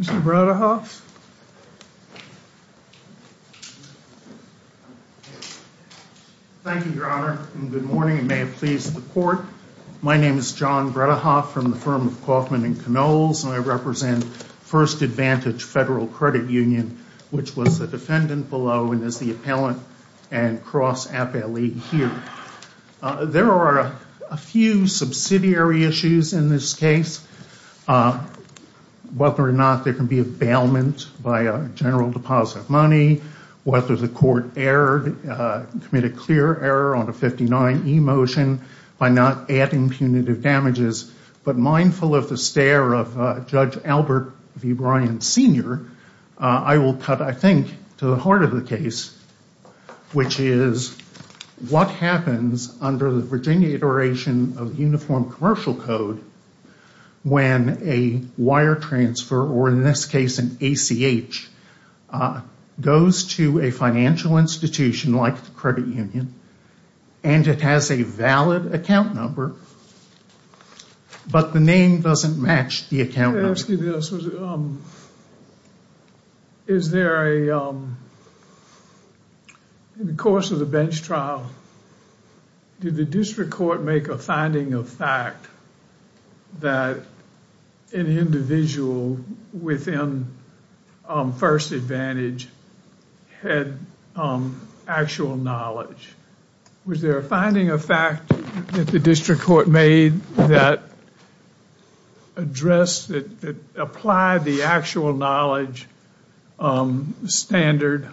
Mr. Bredehoff. Thank you, Your Honor, and good morning and may it please the Court. My name is John Bredehoff from the firm of Kauffman & Knolls, and I represent 1st Advantage Federal Credit Union, which was the defendant below and is the appellant and cross-appellee here. There are a few subsidiary issues in this case. Whether or not there can be a bailment by a general deposit of money, whether the court committed clear error on the 59e motion by not adding punitive damages, but mindful of the stare of Judge Albert v. Bryant Sr., I will cut, I think, to the heart of the case, which is what happens under the Virginia Iteration of Uniform Commercial Code when a wire transfer, or in this case an ACH, goes to a financial institution like the credit union and it has a valid account number, but the name doesn't match the account number. I wanted to ask you this. Is there a, in the course of the bench trial, did the district court make a finding of fact that an individual within 1st Advantage had actual knowledge? Was there a finding of fact that the district court made that addressed, that applied the actual knowledge standard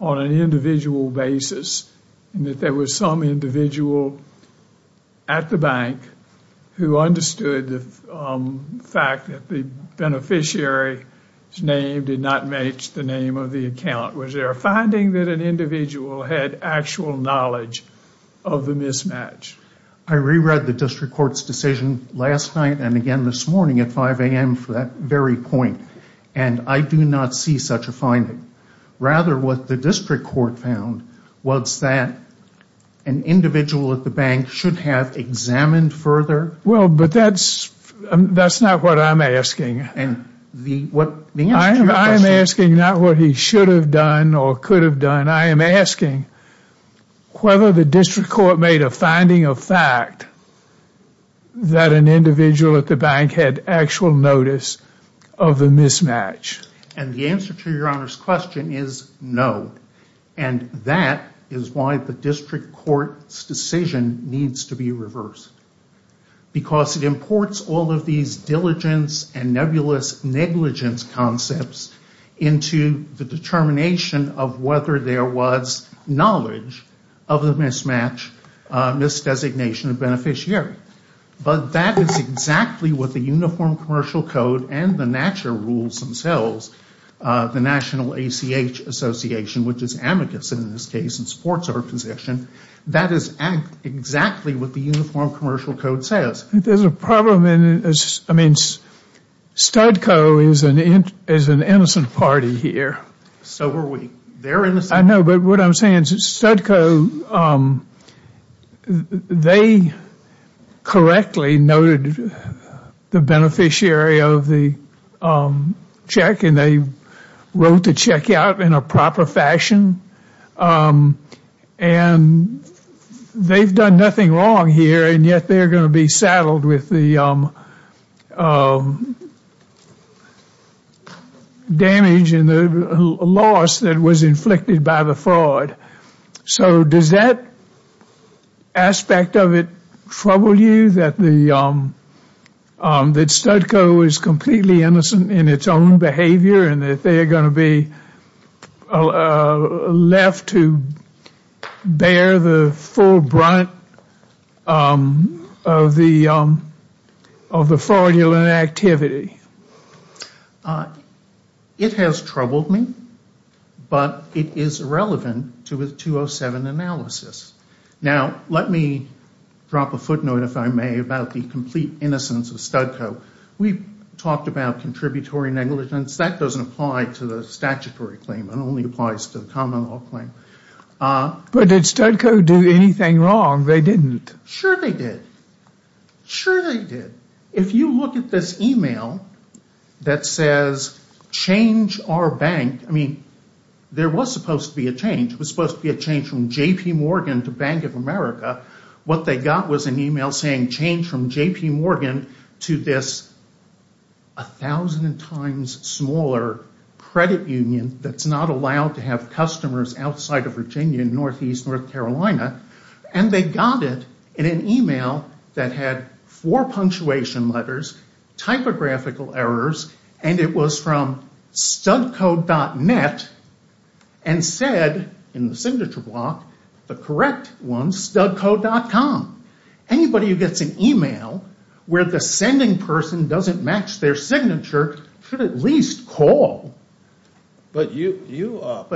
on an individual basis and that there was some individual at the bank who understood the fact that the beneficiary's name did not match the name of the account? Was there a finding that an individual had actual knowledge of the mismatch? I reread the district court's decision last night and again this morning at 5 a.m. for that very point and I do not see such a finding. Rather, what the district court found was that an individual at the bank should have examined further. Well, but that's not what I'm asking. I am asking not what he should have done or could have done. I am asking whether the district court made a finding of fact that an individual at the bank had actual notice of the mismatch. And the answer to your Honor's question is no and that is why the district court's decision needs to be reversed because it imports all of these diligence and nebulous negligence concepts into the determination of whether there was knowledge of the mismatch, misdesignation of beneficiary. But that is exactly what the Uniform Commercial Code and the natural rules themselves, the National ACH Association, which is amicus in this case and supports our position, that is exactly what the Uniform Commercial Code says. There's a problem. I mean, Studco is an innocent party here. So were we. They're innocent. I know, but what I'm saying is that Studco, they correctly noted the beneficiary of the check and they wrote the check out in a proper fashion and they've done nothing wrong here and yet they're going to be saddled with the damage and the loss that was inflicted by the fraud. So does that aspect of it trouble you that Studco is completely innocent in its own behavior and that they are going to be left to bear the full brunt of the fraudulent activity? It has troubled me, but it is relevant to a 207 analysis. Now, let me drop a footnote, if I may, about the complete innocence of Studco. We've talked about contributory negligence. That doesn't apply to the statutory claim. It only applies to the common law claim. But did Studco do anything wrong? They didn't. Sure they did. Sure they did. If you look at this email that says, change our bank, I mean, there was supposed to be a change. It was supposed to be a change from J.P. Morgan to Bank of America. What they got was an email saying, change from J.P. Morgan to this 1,000 times smaller credit union that's not allowed to have customers outside of Virginia, Northeast North Carolina. And they got it in an email that had four punctuation letters, typographical errors, and it was from studco.net and said, in the signature block, the correct one, studco.com. Anybody who gets an email where the sending person doesn't match their signature should at least call. But you are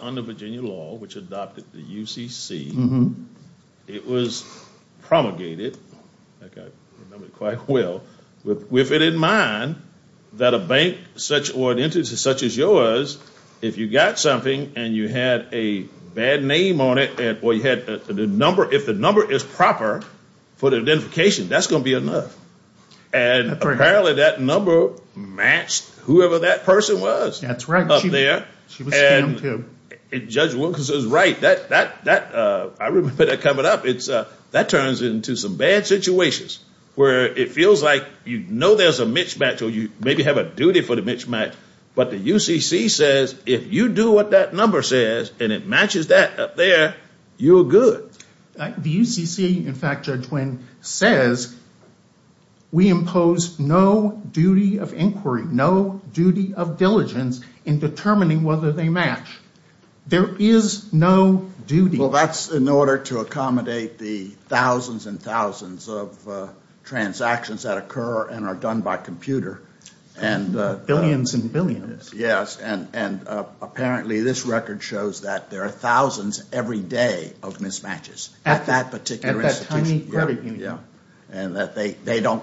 under Virginia law, which adopted the UCC. It was promulgated, if I remember quite well, with it in mind that a bank or an entity such as yours, because if you got something and you had a bad name on it, or if the number is proper for the identification, that's going to be enough. And apparently that number matched whoever that person was up there. And Judge Wilkins is right. I remember that coming up. That turns into some bad situations where it feels like you know there's a mismatch or you maybe have a duty for the mismatch. But the UCC says if you do what that number says and it matches that up there, you're good. The UCC, in fact, Judge Wynn, says we impose no duty of inquiry, no duty of diligence in determining whether they match. There is no duty. Well, that's in order to accommodate the thousands and thousands of transactions that occur and are done by computer. Billions and billions. Yes. And apparently this record shows that there are thousands every day of mismatches at that particular institution. And that they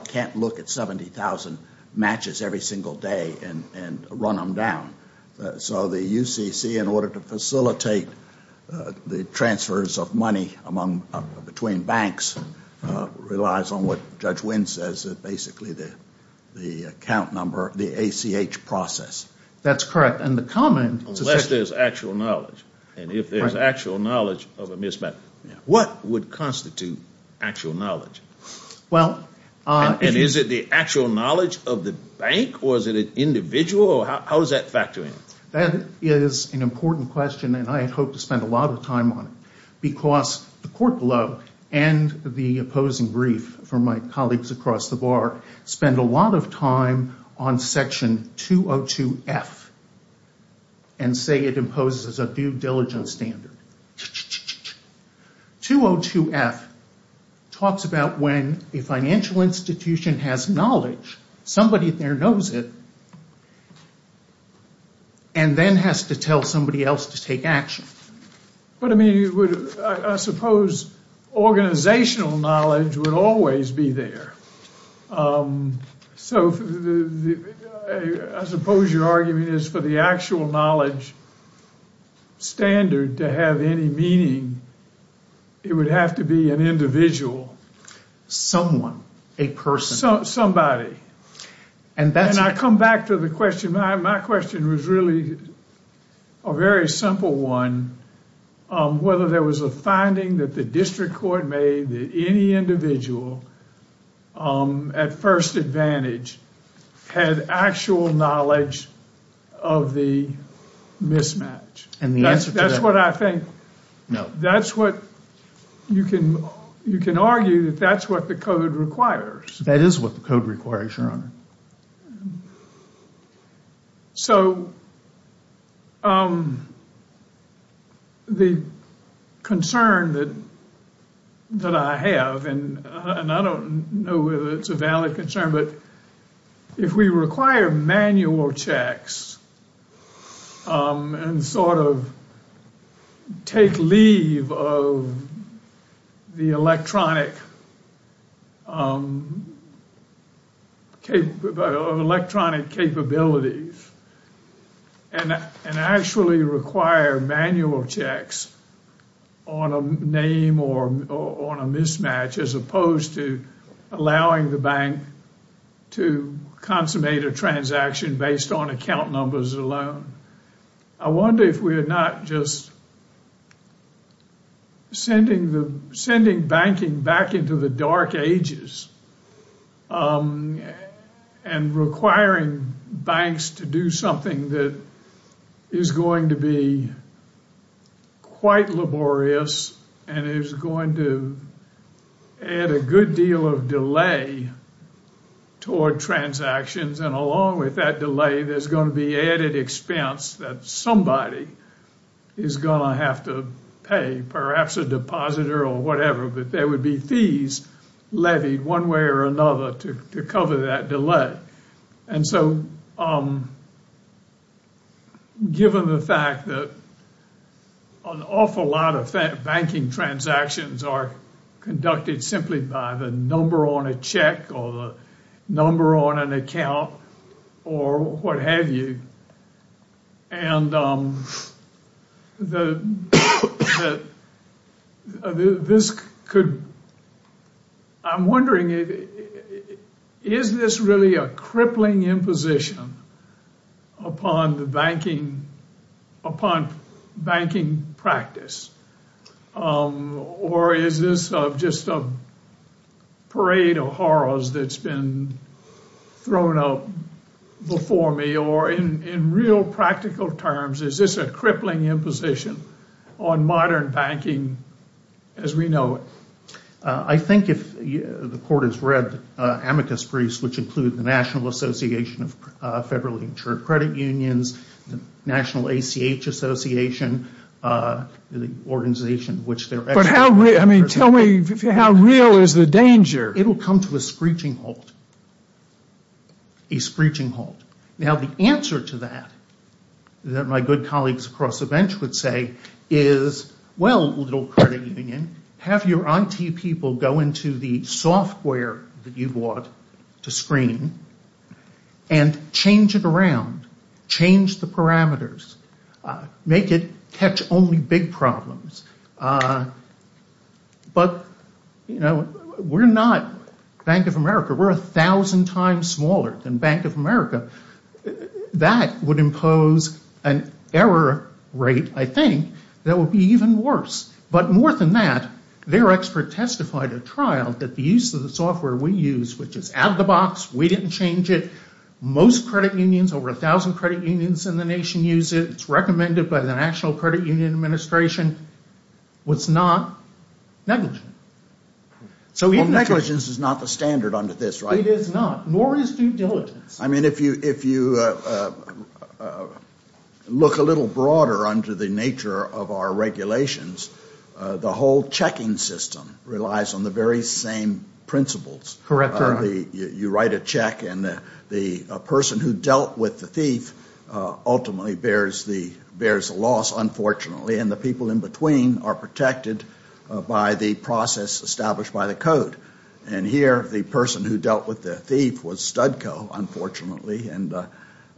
can't look at 70,000 matches every single day and run them down. So the UCC, in order to facilitate the transfers of money between banks, relies on what Judge Wynn says is basically the account number, the ACH process. That's correct. Unless there's actual knowledge. And if there's actual knowledge of a mismatch, what would constitute actual knowledge? And is it the actual knowledge of the bank or is it individual or how does that factor in? That is an important question and I hope to spend a lot of time on it. Because the court below and the opposing brief for my colleagues across the bar spend a lot of time on Section 202F and say it imposes a due diligence standard. 202F talks about when a financial institution has knowledge, somebody there knows it, and then has to tell somebody else to take action. But, I mean, I suppose organizational knowledge would always be there. So I suppose your argument is for the actual knowledge standard to have any meaning, it would have to be an individual. Someone, a person. Somebody. And I come back to the question. My question was really a very simple one. Whether there was a finding that the district court made that any individual at first advantage had actual knowledge of the mismatch. And the answer to that. That's what I think. No. That's what you can argue that that's what the code requires. That is what the code requires, Your Honor. So the concern that I have, and I don't know whether it's a valid concern, but if we require manual checks and sort of take leave of the electronic capabilities and actually require manual checks on a name or on a mismatch as opposed to allowing the bank to consummate a transaction based on account numbers alone. I wonder if we're not just sending banking back into the dark ages and requiring banks to do something that is going to be quite laborious and is going to add a good deal of delay toward transactions. And along with that delay, there's going to be added expense that somebody is going to have to pay. Perhaps a depositor or whatever. But there would be fees levied one way or another to cover that delay. And so given the fact that an awful lot of banking transactions are conducted simply by the number on a check or the number on an account or what have you. And I'm wondering, is this really a crippling imposition upon banking practice? Or is this just a parade of horrors that's been thrown up before me? Or in real practical terms, is this a crippling imposition on modern banking as we know it? I think if the court has read amicus briefs, which include the National Association of Federally Insured Credit Unions, the National ACH Association, the organization which they're actually representing. But how real, I mean, tell me, how real is the danger? It'll come to a screeching halt. A screeching halt. Now the answer to that, that my good colleagues across the bench would say, is, well, little credit union, have your IT people go into the software that you bought to screen and change it around. Change the parameters. Make it catch only big problems. But, you know, we're not Bank of America. We're 1,000 times smaller than Bank of America. That would impose an error rate, I think, that would be even worse. But more than that, their expert testified at trial that the use of the software we use, which is out of the box, we didn't change it. Most credit unions, over 1,000 credit unions in the nation use it. It's recommended by the National Credit Union Administration. It's not negligent. Well, negligence is not the standard under this, right? It is not. Nor is due diligence. I mean, if you look a little broader under the nature of our regulations, the whole checking system relies on the very same principles. Correct. You write a check, and the person who dealt with the thief ultimately bears the loss, unfortunately, and the people in between are protected by the process established by the code. And here, the person who dealt with the thief was Studco, unfortunately, and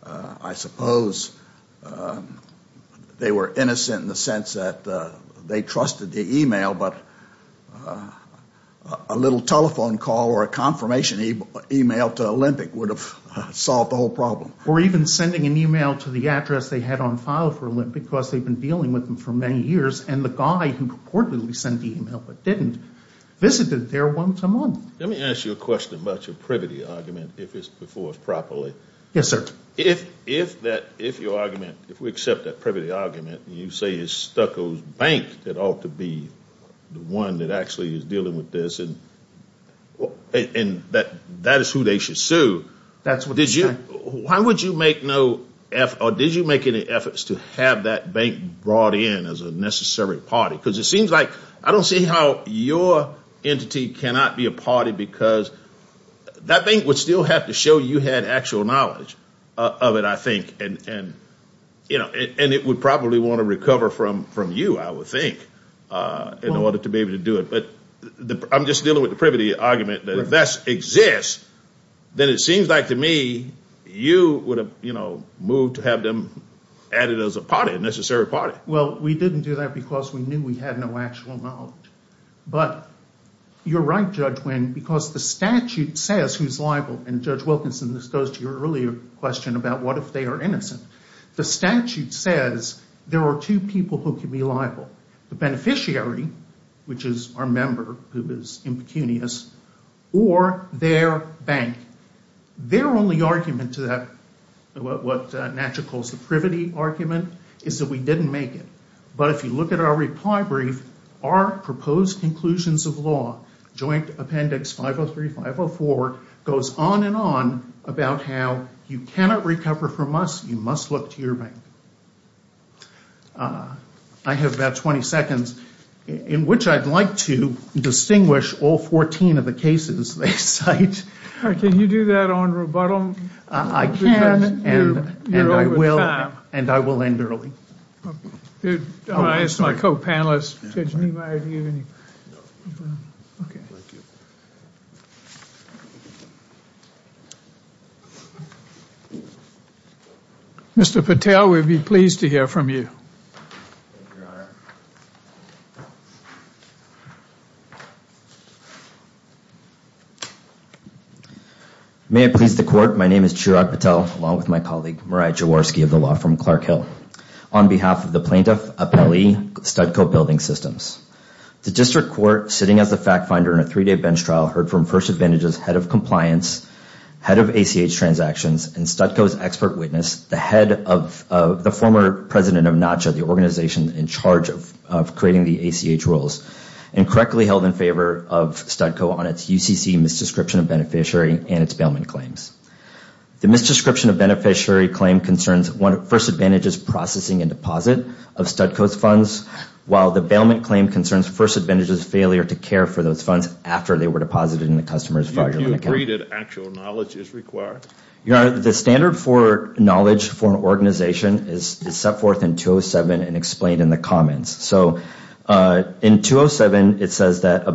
I suppose they were innocent in the sense that they trusted the e-mail, but a little telephone call or a confirmation e-mail to Olympic would have solved the whole problem. Or even sending an e-mail to the address they had on file for Olympic because they'd been dealing with them for many years, and the guy who purportedly sent the e-mail but didn't visited there once a month. Let me ask you a question about your privity argument, if it's before us properly. Yes, sir. If your argument, if we accept that privity argument, and you say it's Studco's bank that ought to be the one that actually is dealing with this, and that is who they should sue, why would you make no effort, or did you make any efforts to have that bank brought in as a necessary party? Because it seems like I don't see how your entity cannot be a party because that bank would still have to show you had actual knowledge of it, I think, and it would probably want to recover from you, I would think, in order to be able to do it. But I'm just dealing with the privity argument that if that exists, then it seems like to me you would have moved to have them added as a necessary party. Well, we didn't do that because we knew we had no actual knowledge. But you're right, Judge Wynn, because the statute says who's liable. And, Judge Wilkinson, this goes to your earlier question about what if they are innocent. The statute says there are two people who can be liable, the beneficiary, which is our member who is impecunious, or their bank. Their only argument to that, what Natchett calls the privity argument, is that we didn't make it. But if you look at our reply brief, our proposed conclusions of law, Joint Appendix 503-504, goes on and on about how you cannot recover from us, you must look to your bank. I have about 20 seconds in which I'd like to distinguish all 14 of the cases they cite. Can you do that on rebuttal? I can, and I will, and I will end early. I'll ask my co-panelists, Judge Niemeyer, do you have any? Okay. Mr. Patel, we'd be pleased to hear from you. Thank you, Your Honor. May it please the Court, my name is Chirag Patel, along with my colleague Mariah Jaworski of the Law Firm Clark Hill, on behalf of the Plaintiff Appellee Studco Building Systems. The District Court, sitting as the fact finder in a three-day bench trial, heard from First Advantage's head of compliance, head of ACH transactions, and Studco's expert witness, the former president of Natchett, the organization in charge of creating the ACH rules, and correctly held in favor of Studco on its UCC misdescription of beneficiary and its bailment claims. The misdescription of beneficiary claim concerns First Advantage's processing and deposit of Studco's funds, while the bailment claim concerns First Advantage's failure to care for those funds after they were deposited in the customer's filing account. Do you agree that actual knowledge is required? Your Honor, the standard for knowledge for an organization is set forth in 207 and explained in the comments. So in 207, it says that a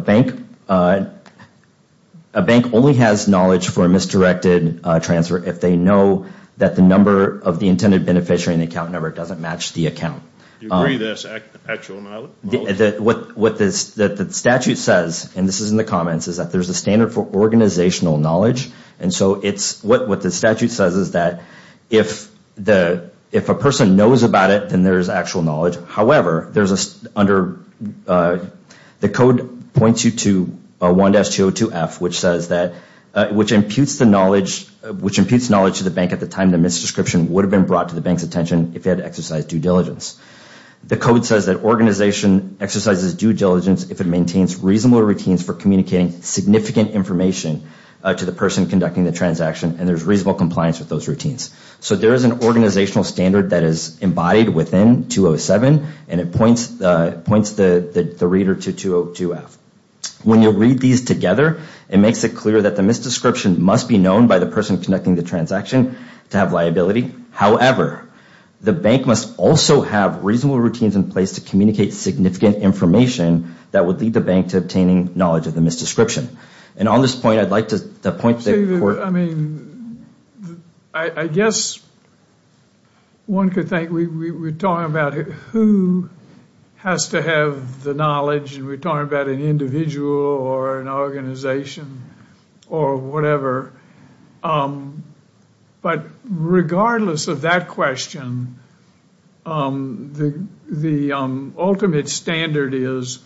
bank only has knowledge for a misdirected transfer if they know that the number of the intended beneficiary in the account number doesn't match the account. Do you agree that that's actual knowledge? What the statute says, and this is in the comments, is that there's a standard for organizational knowledge, and so what the statute says is that if a person knows about it, then there's actual knowledge. However, the code points you to 1-202-F, which imputes knowledge to the bank at the time the misdescription would have been brought to the bank's attention if they had exercised due diligence. The code says that organization exercises due diligence if it maintains reasonable routines for communicating significant information to the person conducting the transaction, and there's reasonable compliance with those routines. So there is an organizational standard that is embodied within 207, and it points the reader to 202-F. When you read these together, it makes it clear that the misdescription must be known by the person conducting the transaction to have liability. However, the bank must also have reasonable routines in place to communicate significant information that would lead the bank to obtaining knowledge of the misdescription. And on this point, I'd like to point to... I mean, I guess one could think we're talking about who has to have the knowledge, and we're talking about an individual or an organization or whatever. But regardless of that question, the ultimate standard is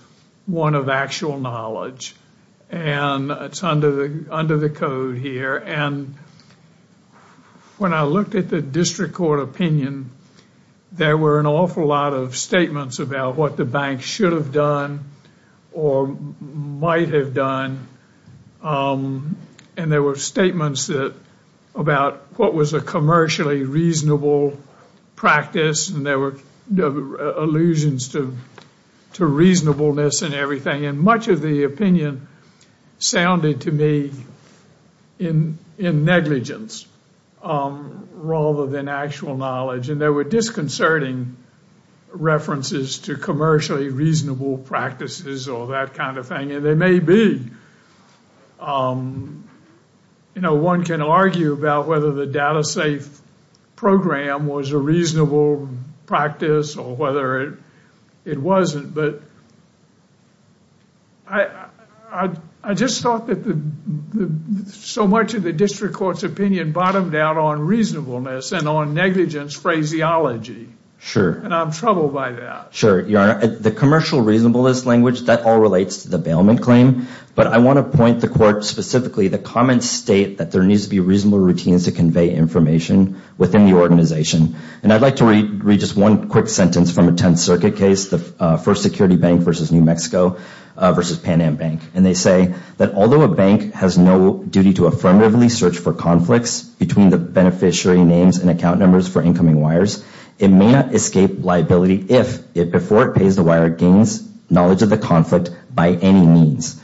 one of actual knowledge, and it's under the code here. And when I looked at the district court opinion, there were an awful lot of statements about what the bank should have done or might have done, and there were statements about what was a commercially reasonable practice, and there were allusions to reasonableness and everything. And much of the opinion sounded to me in negligence rather than actual knowledge, and there were disconcerting references to commercially reasonable practices or that kind of thing. And there may be... You know, one can argue about whether the Data Safe program was a reasonable practice or whether it wasn't, but I just thought that so much of the district court's opinion bottomed out on reasonableness and on negligence phraseology. And I'm troubled by that. Sure, Your Honor. The commercial reasonableness language, that all relates to the bailment claim, but I want to point the court specifically, the comments state that there needs to be reasonable routines to convey information within the organization. And I'd like to read just one quick sentence from a Tenth Circuit case, the First Security Bank versus New Mexico versus Pan Am Bank. And they say that although a bank has no duty to affirmatively search for conflicts between the beneficiary names and account numbers for incoming wires, it may not escape liability if, before it pays the wire, it gains knowledge of the conflict by any means.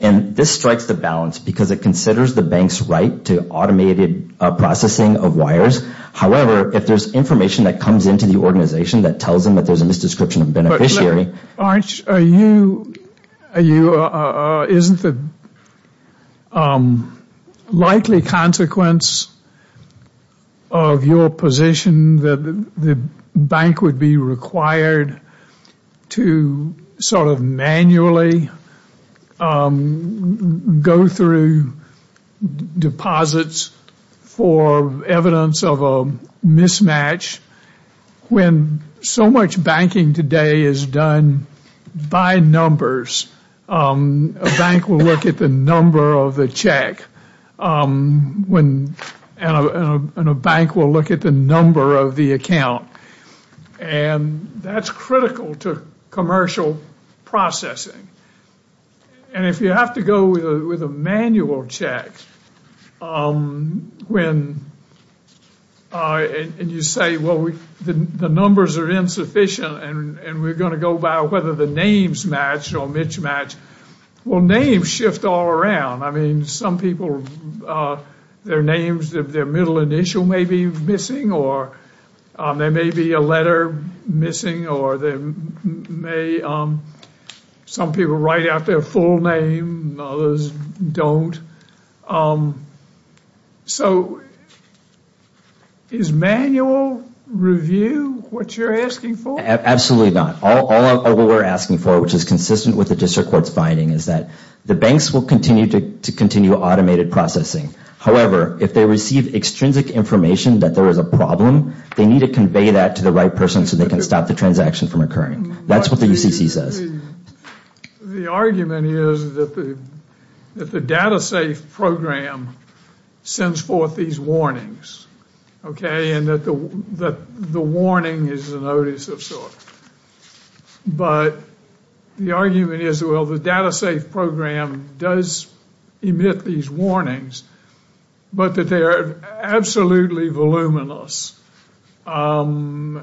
And this strikes the balance because it considers the bank's right to automated processing of wires. However, if there's information that comes into the organization that tells them that there's a misdescription of beneficiary... Arch, isn't the likely consequence of your position that the bank would be required to sort of manually go through deposits for evidence of a mismatch when so much banking today is done by numbers? A bank will look at the number of the check and a bank will look at the number of the account. And that's critical to commercial processing. And if you have to go with a manual check and you say, well, the numbers are insufficient and we're going to go by whether the names match or mismatch, well, names shift all around. I mean, some people, their names, their middle initial may be missing or there may be a letter missing or some people write out their full name and others don't. So is manual review what you're asking for? Absolutely not. All we're asking for, which is consistent with the district court's finding, is that the banks will continue to continue automated processing. However, if they receive extrinsic information that there is a problem, they need to convey that to the right person so they can stop the transaction from occurring. That's what the UCC says. The argument is that the data safe program sends forth these warnings. Okay, and that the warning is a notice of sorts. But the argument is, well, the data safe program does emit these warnings, but that they are absolutely voluminous and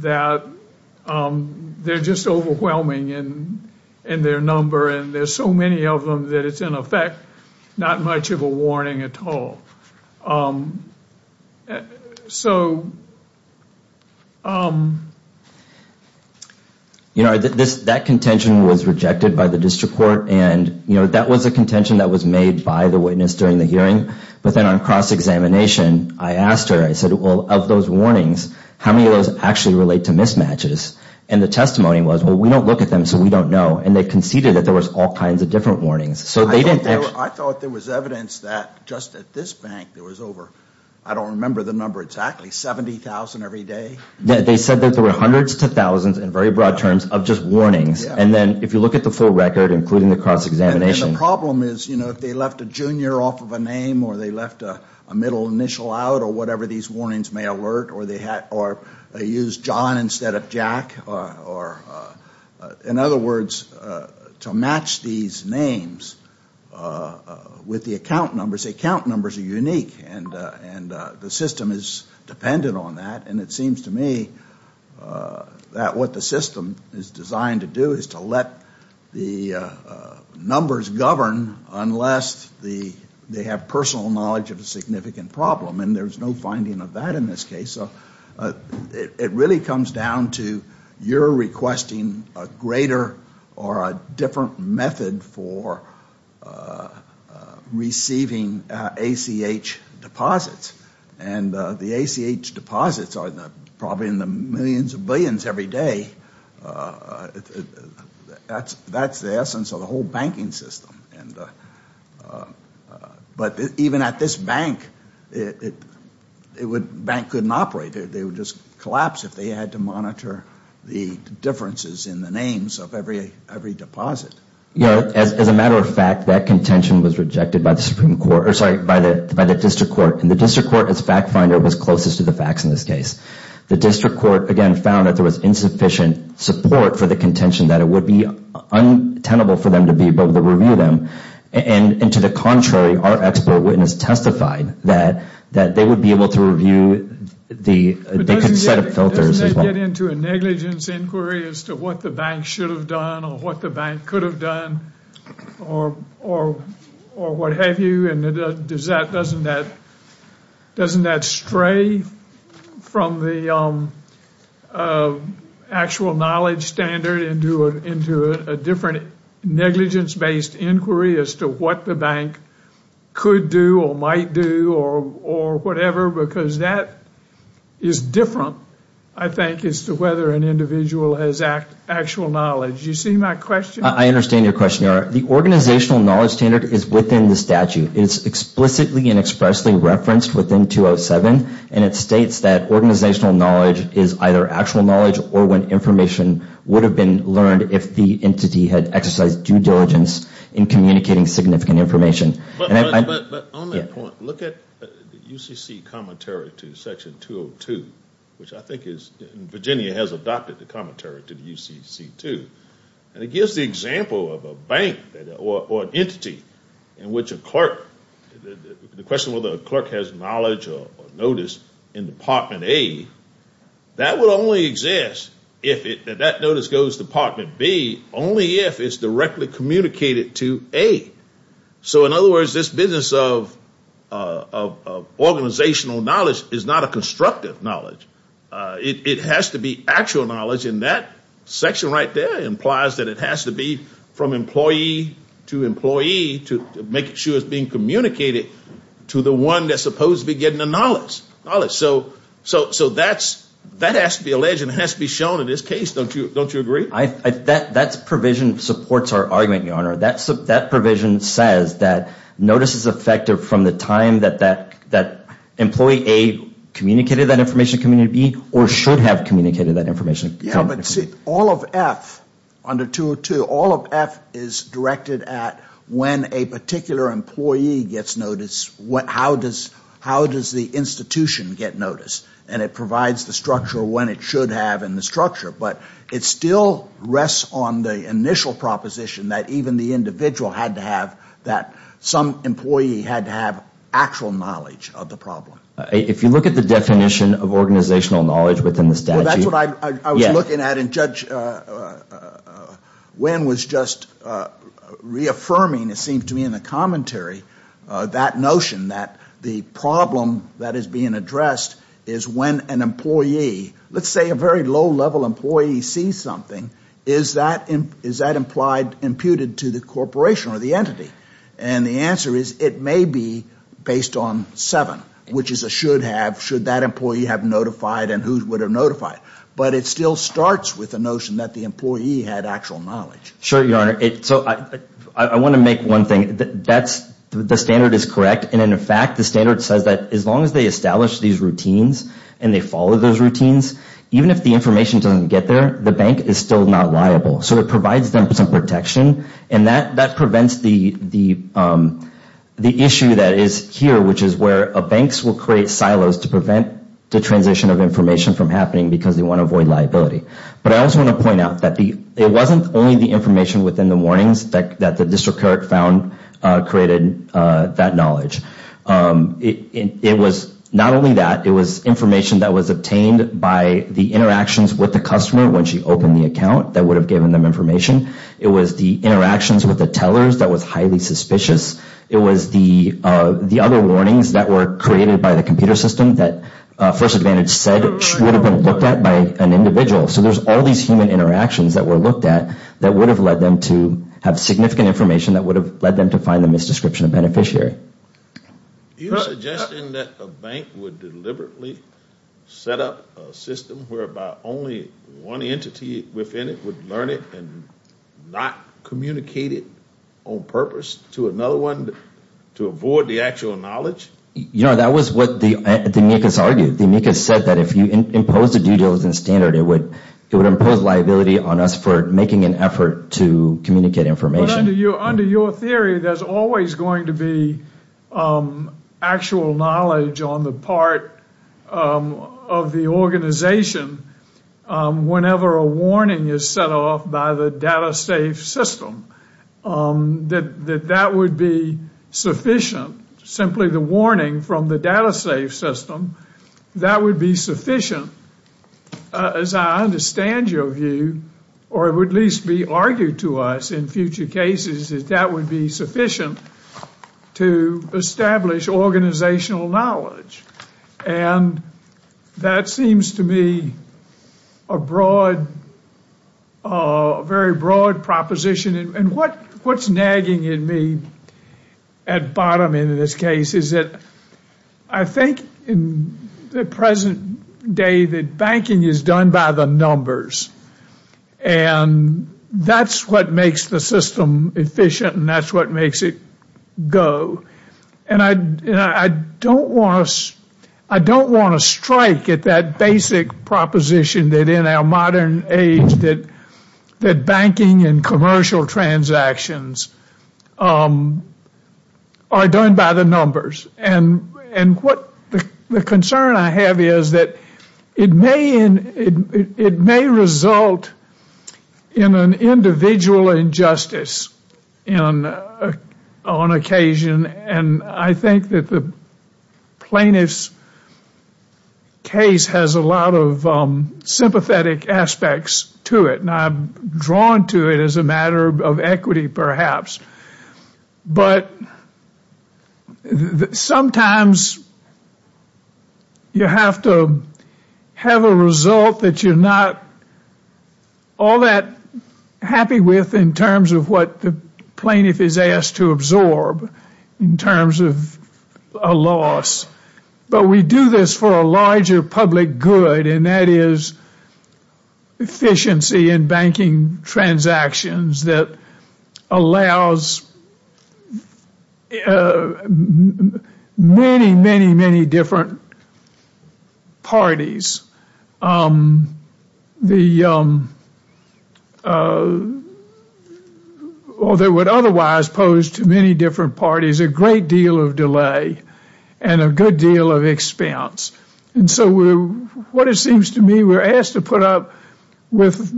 that they're just overwhelming in their number and there's so many of them that it's, in effect, not much of a warning at all. So... You know, that contention was rejected by the district court and that was a contention that was made by the witness during the hearing. But then on cross-examination, I asked her, I said, well, of those warnings, how many of those actually relate to mismatches? And the testimony was, well, we don't look at them, so we don't know. And they conceded that there was all kinds of different warnings. I thought there was evidence that just at this bank there was over, I don't remember the number exactly, 70,000 every day. They said that there were hundreds to thousands in very broad terms of just warnings. And then if you look at the full record, including the cross-examination... And the problem is, you know, if they left a junior off of a name or they left a middle initial out or whatever these warnings may alert or they used John instead of Jack or... In other words, to match these names with the account numbers, the account numbers are unique and the system is dependent on that. And it seems to me that what the system is designed to do is to let the numbers govern unless they have personal knowledge of a significant problem. And there's no finding of that in this case. So it really comes down to you're requesting a greater or a different method for receiving ACH deposits. And the ACH deposits are probably in the millions or billions every day. That's the essence of the whole banking system. But even at this bank, the bank couldn't operate. They would just collapse if they had to monitor the differences in the names of every deposit. As a matter of fact, that contention was rejected by the district court. And the district court, as fact finder, was closest to the facts in this case. The district court, again, found that there was insufficient support for the contention that it would be untenable for them to be able to review them. And to the contrary, our expert witness testified that they would be able to review the set of filters. Doesn't that get into a negligence inquiry as to what the bank should have done or what the bank could have done or what have you? Doesn't that stray from the actual knowledge standard into a different negligence-based inquiry as to what the bank could do or might do or whatever? Because that is different, I think, as to whether an individual has actual knowledge. You see my question? I understand your question. The organizational knowledge standard is within the statute. It's explicitly and expressly referenced within 207, and it states that organizational knowledge is either actual knowledge or when information would have been learned if the entity had exercised due diligence in communicating significant information. But on that point, look at the UCC commentary to Section 202, which I think is Virginia has adopted the commentary to the UCC2. And it gives the example of a bank or an entity in which a clerk, the question whether a clerk has knowledge or notice in Department A, that would only exist if that notice goes to Department B only if it's directly communicated to A. So in other words, this business of organizational knowledge is not a constructive knowledge. It has to be actual knowledge, and that section right there implies that it has to be from employee to employee to make sure it's being communicated to the one that's supposed to be getting the knowledge. So that has to be alleged and has to be shown in this case. Don't you agree? That provision supports our argument, Your Honor. That provision says that notice is effective from the time that employee A communicated that information to community B or should have communicated that information. Yeah, but see, all of F under 202, all of F is directed at when a particular employee gets notice, how does the institution get notice? And it provides the structure when it should have in the structure. But it still rests on the initial proposition that even the individual had to have, that some employee had to have actual knowledge of the problem. If you look at the definition of organizational knowledge within the statute. Well, that's what I was looking at, and Judge Wynn was just reaffirming, it seemed to me in the commentary, that notion that the problem that is being addressed is when an employee, let's say a very low-level employee sees something, is that imputed to the corporation or the entity? And the answer is it may be based on seven, which is a should have, should that employee have notified and who would have notified. But it still starts with the notion that the employee had actual knowledge. Sure, Your Honor. So I want to make one thing. That's, the standard is correct. And in fact, the standard says that as long as they establish these routines and they follow those routines, even if the information doesn't get there, the bank is still not liable. So it provides them some protection, and that prevents the issue that is here, which is where banks will create silos to prevent the transition of information from happening because they want to avoid liability. But I also want to point out that it wasn't only the information within the warnings that the district court found created that knowledge. It was not only that. It was information that was obtained by the interactions with the customer when she opened the account that would have given them information. It was the interactions with the tellers that was highly suspicious. It was the other warnings that were created by the computer system that First Advantage said should have been looked at by an individual. So there's all these human interactions that were looked at that would have led them to have significant information that would have led them to find the misdescription of beneficiary. Are you suggesting that a bank would deliberately set up a system whereby only one entity within it would learn it and not communicate it on purpose to another one to avoid the actual knowledge? Your Honor, that was what the amicus argued. The amicus said that if you imposed a due diligence standard, it would impose liability on us for making an effort to communicate information. Under your theory, there's always going to be actual knowledge on the part of the organization whenever a warning is set off by the data safe system. That that would be sufficient, simply the warning from the data safe system, that would be sufficient, as I understand your view, or it would at least be argued to us in future cases, that that would be sufficient to establish organizational knowledge. And that seems to me a very broad proposition. And what's nagging in me at bottom end of this case is that I think in the present day that banking is done by the numbers. And that's what makes the system efficient and that's what makes it go. And I don't want to strike at that basic proposition that in our modern age that banking and commercial transactions are done by the numbers. And the concern I have is that it may result in an individual injustice on occasion. And I think that the plaintiff's case has a lot of sympathetic aspects to it. And I'm drawn to it as a matter of equity perhaps. But sometimes you have to have a result that you're not all that happy with in terms of what the plaintiff is asked to absorb in terms of a loss. But we do this for a larger public good. And that is efficiency in banking transactions that allows many, many, many different parties. Or they would otherwise pose to many different parties a great deal of delay and a good deal of expense. And so what it seems to me we're asked to put up with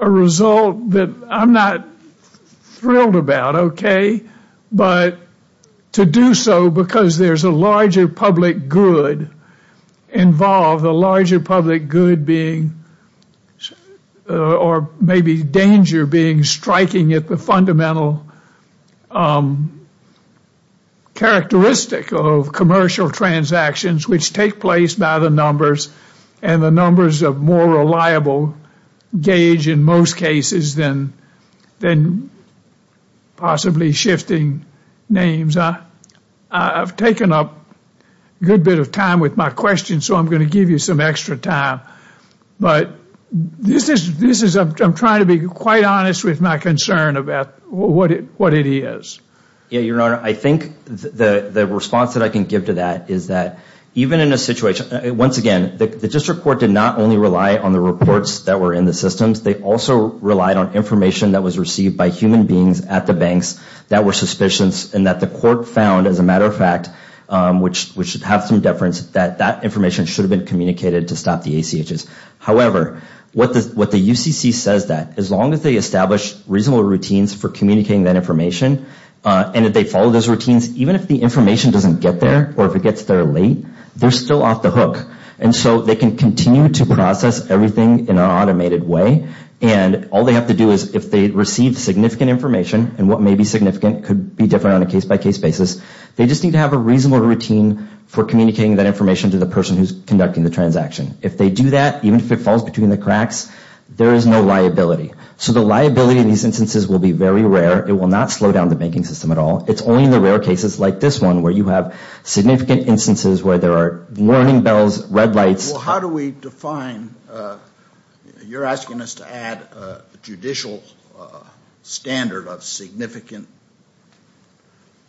a result that I'm not thrilled about, okay? But to do so because there's a larger public good involved. A larger public good being or maybe danger being striking at the fundamental characteristic of commercial transactions which take place by the numbers and the numbers of more reliable gauge in most cases than possibly shifting names. I've taken up a good bit of time with my question, so I'm going to give you some extra time. But I'm trying to be quite honest with my concern about what it is. Your Honor, I think the response that I can give to that is that even in a situation, once again, the district court did not only rely on the reports that were in the systems. They also relied on information that was received by human beings at the banks that were suspicions and that the court found, as a matter of fact, which should have some deference, that that information should have been communicated to stop the ACHs. However, what the UCC says that as long as they establish reasonable routines for communicating that information and that they follow those routines, even if the information doesn't get there or if it gets there late, they're still off the hook. And so they can continue to process everything in an automated way. And all they have to do is if they receive significant information, and what may be significant could be different on a case-by-case basis, they just need to have a reasonable routine for communicating that information to the person who's conducting the transaction. If they do that, even if it falls between the cracks, there is no liability. So the liability in these instances will be very rare. It will not slow down the banking system at all. It's only in the rare cases like this one where you have significant instances where there are warning bells, red lights. Well, how do we define? You're asking us to add a judicial standard of significant,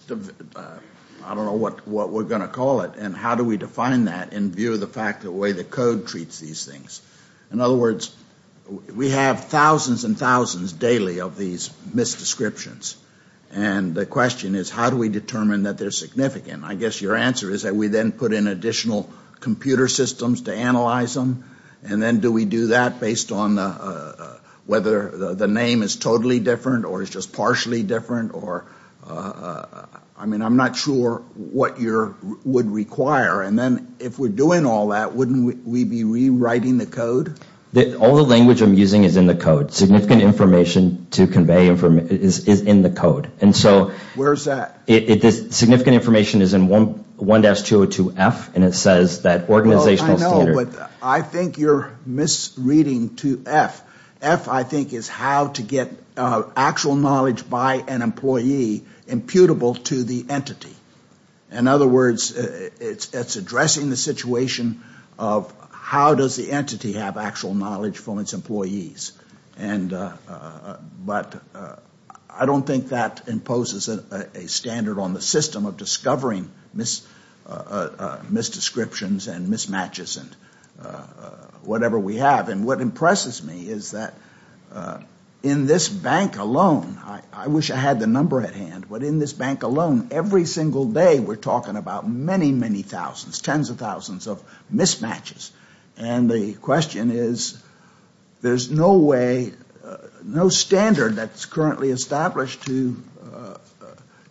I don't know what we're going to call it. And how do we define that in view of the fact the way the code treats these things? In other words, we have thousands and thousands daily of these misdescriptions. And the question is how do we determine that they're significant? I guess your answer is that we then put in additional computer systems to analyze them. And then do we do that based on whether the name is totally different or is just partially different? I mean, I'm not sure what you would require. And then if we're doing all that, wouldn't we be rewriting the code? All the language I'm using is in the code. Significant information to convey is in the code. Where is that? Significant information is in 1-202-F and it says that organizational standard. I know, but I think you're misreading 2-F. F, I think, is how to get actual knowledge by an employee imputable to the entity. In other words, it's addressing the situation of how does the entity have actual knowledge from its employees. But I don't think that imposes a standard on the system of discovering misdescriptions and mismatches and whatever we have. And what impresses me is that in this bank alone, I wish I had the number at hand, but in this bank alone, every single day we're talking about many, many thousands, tens of thousands of mismatches. And the question is, there's no way, no standard that's currently established to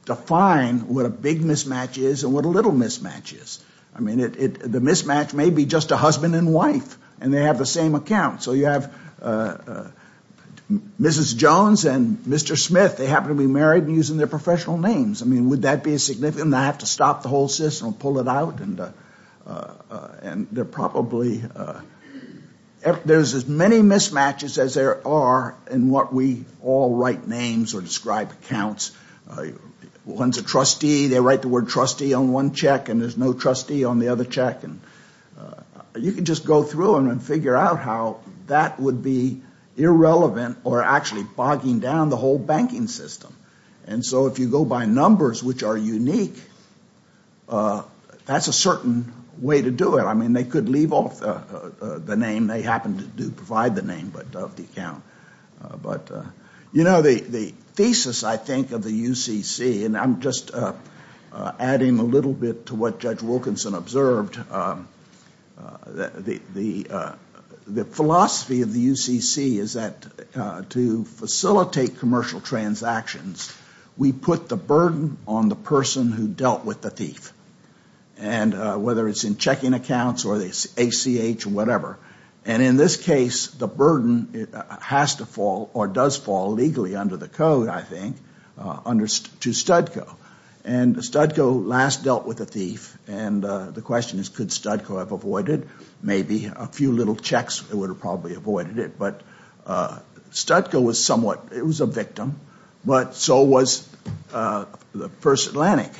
define what a big mismatch is and what a little mismatch is. I mean, the mismatch may be just a husband and wife and they have the same account. So you have Mrs. Jones and Mr. Smith. They happen to be married and using their professional names. I mean, would that be significant? Do I have to stop the whole system and pull it out? There's as many mismatches as there are in what we all write names or describe accounts. One's a trustee. They write the word trustee on one check and there's no trustee on the other check. You can just go through them and figure out how that would be irrelevant or actually bogging down the whole banking system. And so if you go by numbers which are unique, that's a certain way to do it. I mean, they could leave off the name. They happen to provide the name of the account. You know, the thesis I think of the UCC, and I'm just adding a little bit to what Judge Wilkinson observed, the philosophy of the UCC is that to facilitate commercial transactions, we put the burden on the person who dealt with the thief. And whether it's in checking accounts or the ACH or whatever. And in this case, the burden has to fall or does fall legally under the code, I think, to STDCO. And STDCO last dealt with the thief. And the question is could STDCO have avoided it? Maybe. A few little checks would have probably avoided it. But STDCO was somewhat, it was a victim, but so was First Atlantic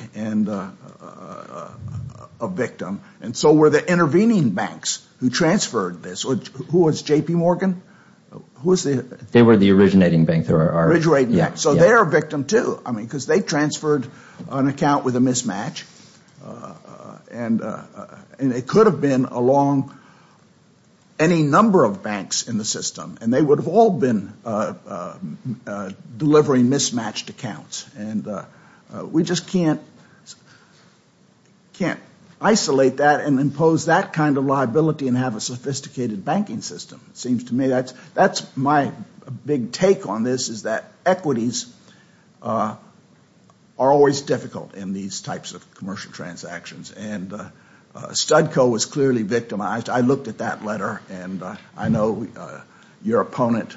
a victim. And so were the intervening banks who transferred this. Who was J.P. Morgan? They were the originating bank. So they are a victim too. I mean, because they transferred an account with a mismatch. And it could have been along any number of banks in the system. And they would have all been delivering mismatched accounts. And we just can't isolate that and impose that kind of liability and have a sophisticated banking system. It seems to me that's my big take on this is that equities are always difficult in these types of commercial transactions. And STDCO was clearly victimized. I looked at that letter and I know your opponent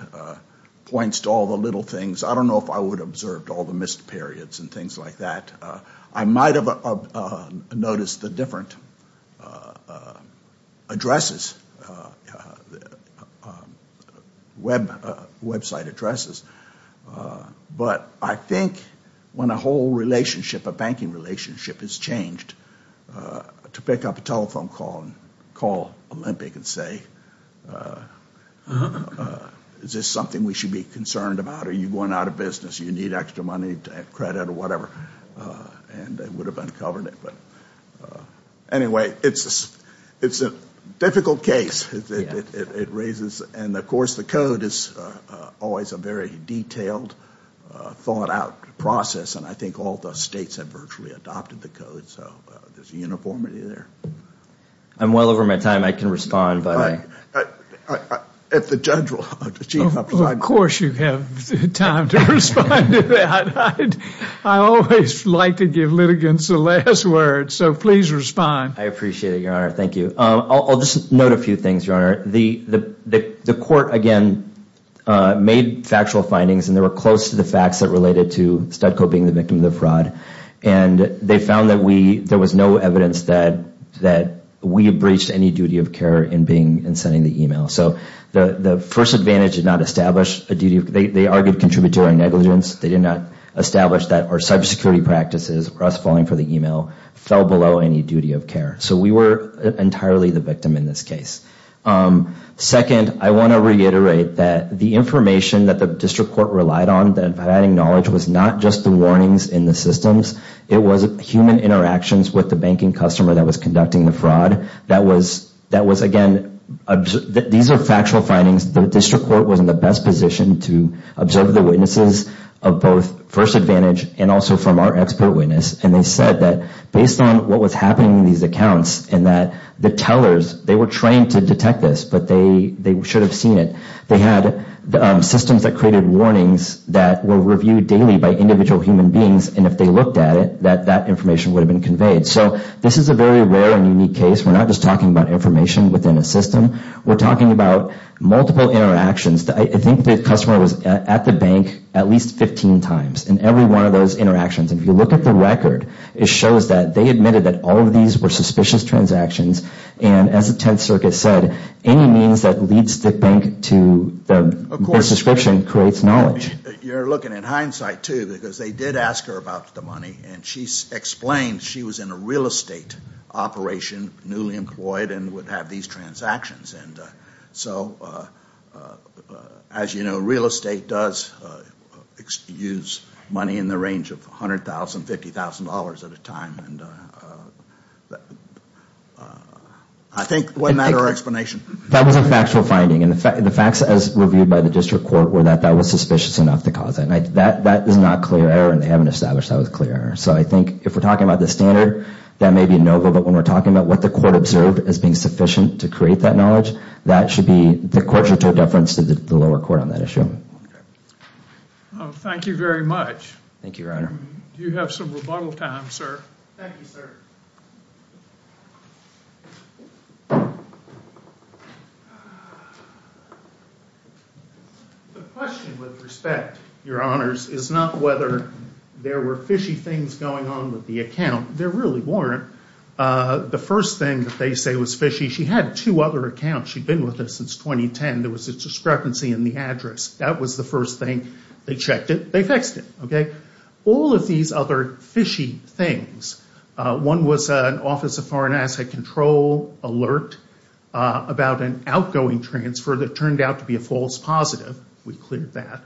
points to all the little things. I don't know if I would have observed all the missed periods and things like that. I might have noticed the different addresses, website addresses. But I think when a whole relationship, a banking relationship has changed, to pick up a telephone call and call Olympic and say, is this something we should be concerned about? Are you going out of business? Do you need extra money, credit, or whatever? And I would have uncovered it. Anyway, it's a difficult case. It raises, and of course the code is always a very detailed, thought out process. And I think all the states have virtually adopted the code. So there's uniformity there. I'm well over my time. I can respond. If the judge will. Of course you have time to respond to that. I always like to give litigants the last word. So please respond. I appreciate it, Your Honor. Thank you. I'll just note a few things, Your Honor. The court, again, made factual findings and they were close to the facts that related to STDCO being the victim of the fraud. And they found that there was no evidence that we breached any duty of care in sending the email. So the first advantage did not establish a duty of care. They argued contributory negligence. They did not establish that our cybersecurity practices, us falling for the email, fell below any duty of care. So we were entirely the victim in this case. Second, I want to reiterate that the information that the district court relied on, providing knowledge, was not just the warnings in the systems. It was human interactions with the banking customer that was conducting the fraud. That was, again, these are factual findings. The district court was in the best position to observe the witnesses of both first advantage and also from our expert witness. And they said that based on what was happening in these accounts and that the tellers, they were trained to detect this, but they should have seen it. They had systems that created warnings that were reviewed daily by individual human beings. And if they looked at it, that information would have been conveyed. So this is a very rare and unique case. We're not just talking about information within a system. We're talking about multiple interactions. I think the customer was at the bank at least 15 times in every one of those interactions. And if you look at the record, it shows that they admitted that all of these were suspicious transactions. And as the Tenth Circuit said, any means that leads the bank to the misdescription creates knowledge. You're looking at hindsight, too, because they did ask her about the money. And she explained she was in a real estate operation, newly employed, and would have these transactions. And so as you know, real estate does use money in the range of $100,000, $50,000 at a time. And I think wasn't that our explanation? That was a factual finding. And the facts as reviewed by the district court were that that was suspicious enough to cause it. And that is not clear error, and they haven't established that was clear error. So I think if we're talking about the standard, that may be a no-go. But when we're talking about what the court observed as being sufficient to create that knowledge, that should be the court's deference to the lower court on that issue. Thank you very much. Thank you, Your Honor. Do you have some rebuttal time, sir? Thank you, sir. The question, with respect, Your Honors, is not whether there were fishy things going on with the account. There really weren't. The first thing that they say was fishy, she had two other accounts. She'd been with us since 2010. There was a discrepancy in the address. That was the first thing. They checked it. They fixed it. All of these other fishy things, one was an Office of Foreign Asset Control alert about an outgoing transfer that turned out to be a false positive. We cleared that.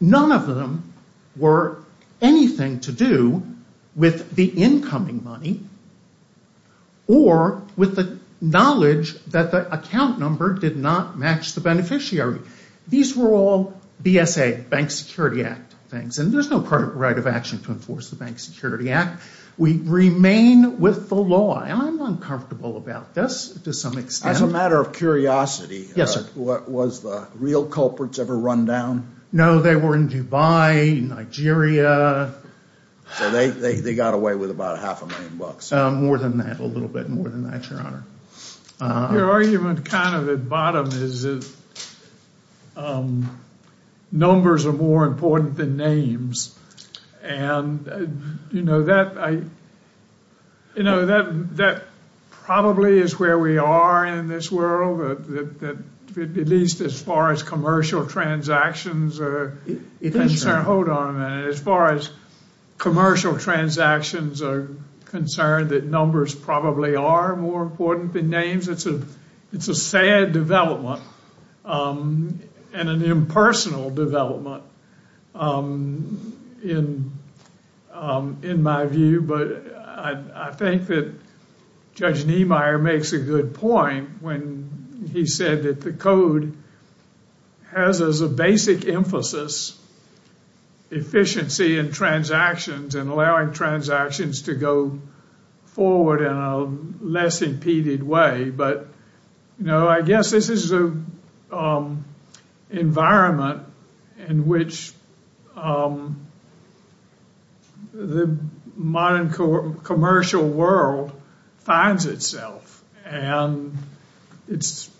None of them were anything to do with the incoming money or with the knowledge that the account number did not match the beneficiary. These were all BSA, Bank Security Act things, and there's no right of action to enforce the Bank Security Act. We remain with the law, and I'm uncomfortable about this to some extent. As a matter of curiosity, was the real culprits ever run down? No, they were in Dubai, Nigeria. So they got away with about half a million bucks. More than that, a little bit more than that, Your Honor. Your argument kind of at bottom is that numbers are more important than names, and that probably is where we are in this world, at least as far as commercial transactions are concerned. Hold on a minute. As far as commercial transactions are concerned, that numbers probably are more important than names, it's a sad development and an impersonal development in my view, but I think that Judge Niemeyer makes a good point when he said that the code has as a basic emphasis efficiency in transactions and allowing transactions to go forward in a less impeded way, but I guess this is an environment in which the modern commercial world finds itself, and it's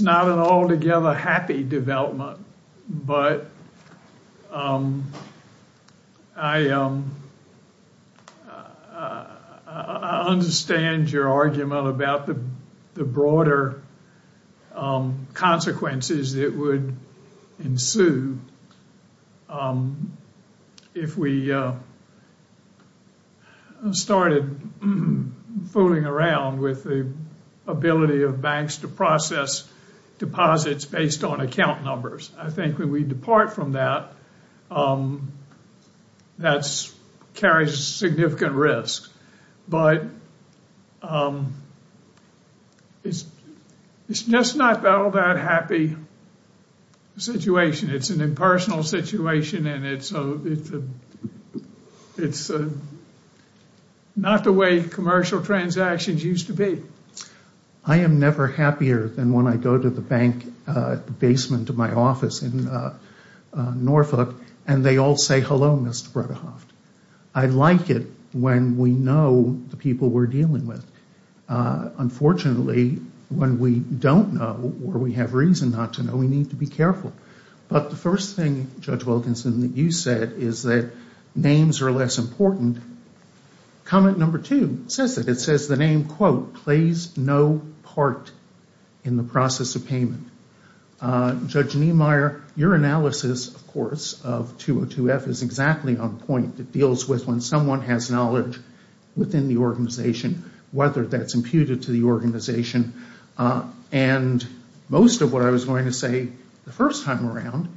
not an altogether happy development, but I understand your argument about the broader consequences that would ensue if we started fooling around with the ability of banks to process deposits based on account numbers. I think when we depart from that, that carries significant risk, but it's just not all that happy situation. It's an impersonal situation, and it's not the way commercial transactions used to be. I am never happier than when I go to the bank basement of my office in Norfolk, and they all say, hello, Mr. Bredehoft. I like it when we know the people we're dealing with. Unfortunately, when we don't know or we have reason not to know, we need to be careful, but the first thing, Judge Wilkinson, that you said is that names are less important. Comment number two says that. It says the name, quote, plays no part in the process of payment. Judge Niemeyer, your analysis, of course, of 202F is exactly on point. It deals with when someone has knowledge within the organization, whether that's imputed to the organization, and most of what I was going to say the first time around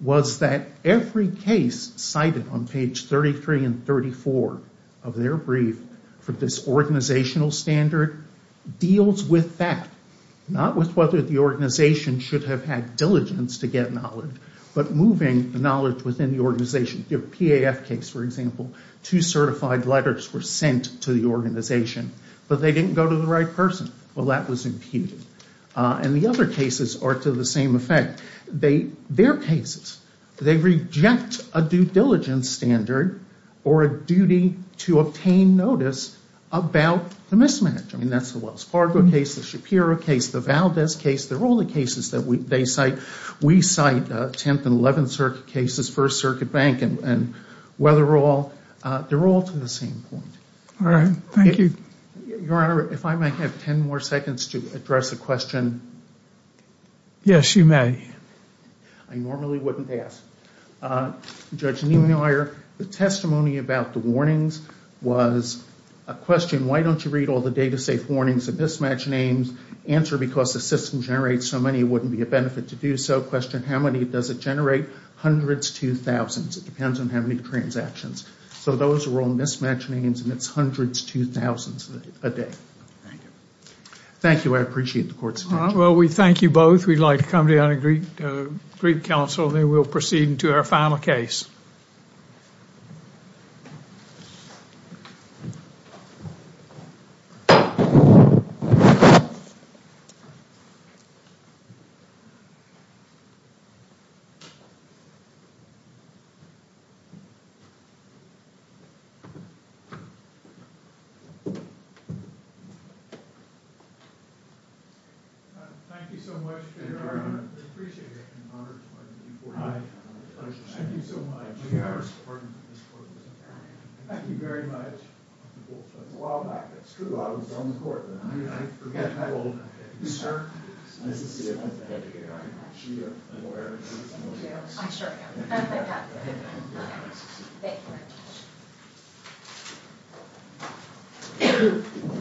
was that every case cited on page 33 and 34 of their brief for this organizational standard deals with that, not with whether the organization should have had diligence to get knowledge, but moving the knowledge within the organization. The PAF case, for example, two certified letters were sent to the organization, but they didn't go to the right person. Well, that was imputed. And the other cases are to the same effect. Their cases, they reject a due diligence standard or a duty to obtain notice about the mismanagement. That's the Wells Fargo case, the Shapiro case, the Valdez case. They're all the cases that they cite. We cite 10th and 11th Circuit cases, First Circuit Bank, and Weatherall. They're all to the same point. All right. Thank you. Your Honor, if I might have 10 more seconds to address a question. Yes, you may. I normally wouldn't ask. Judge Niemeyer, the testimony about the warnings was a question, why don't you read all the data-safe warnings and mismatch names? Answer, because the system generates so many, it wouldn't be a benefit to do so. Question, how many does it generate? Hundreds to thousands. It depends on how many transactions. So those are all mismatch names, and it's hundreds to thousands a day. Thank you. Thank you. I appreciate the court's attention. Well, we thank you both. We'd like to come down and greet counsel. Then we'll proceed into our final case. Thank you so much, Your Honor. I appreciate it. I'm honored to have you before me. Thank you so much. We have our support in this court. Thank you very much. It's been a while back. That's true. I was on the court. I forget how old. You, sir? Nice to see you. Nice to have you here. I'm sure you're aware. Thank you. I'm sure I am. I'm so happy. Thank you. Thank you.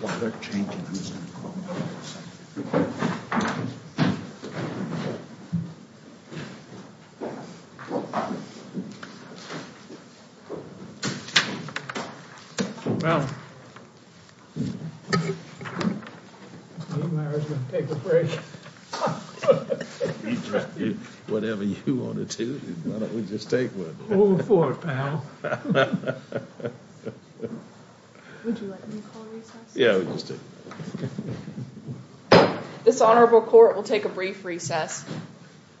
While they're changing, I'm just going to call you. Well, you and I are going to take a break. Whatever you want to do. Why don't we just take one? Move forward, pal. Would you like me to call recess? Yeah, we just do. This honorable court will take a brief recess. Thank you. Thank you. Thank you. Thank you.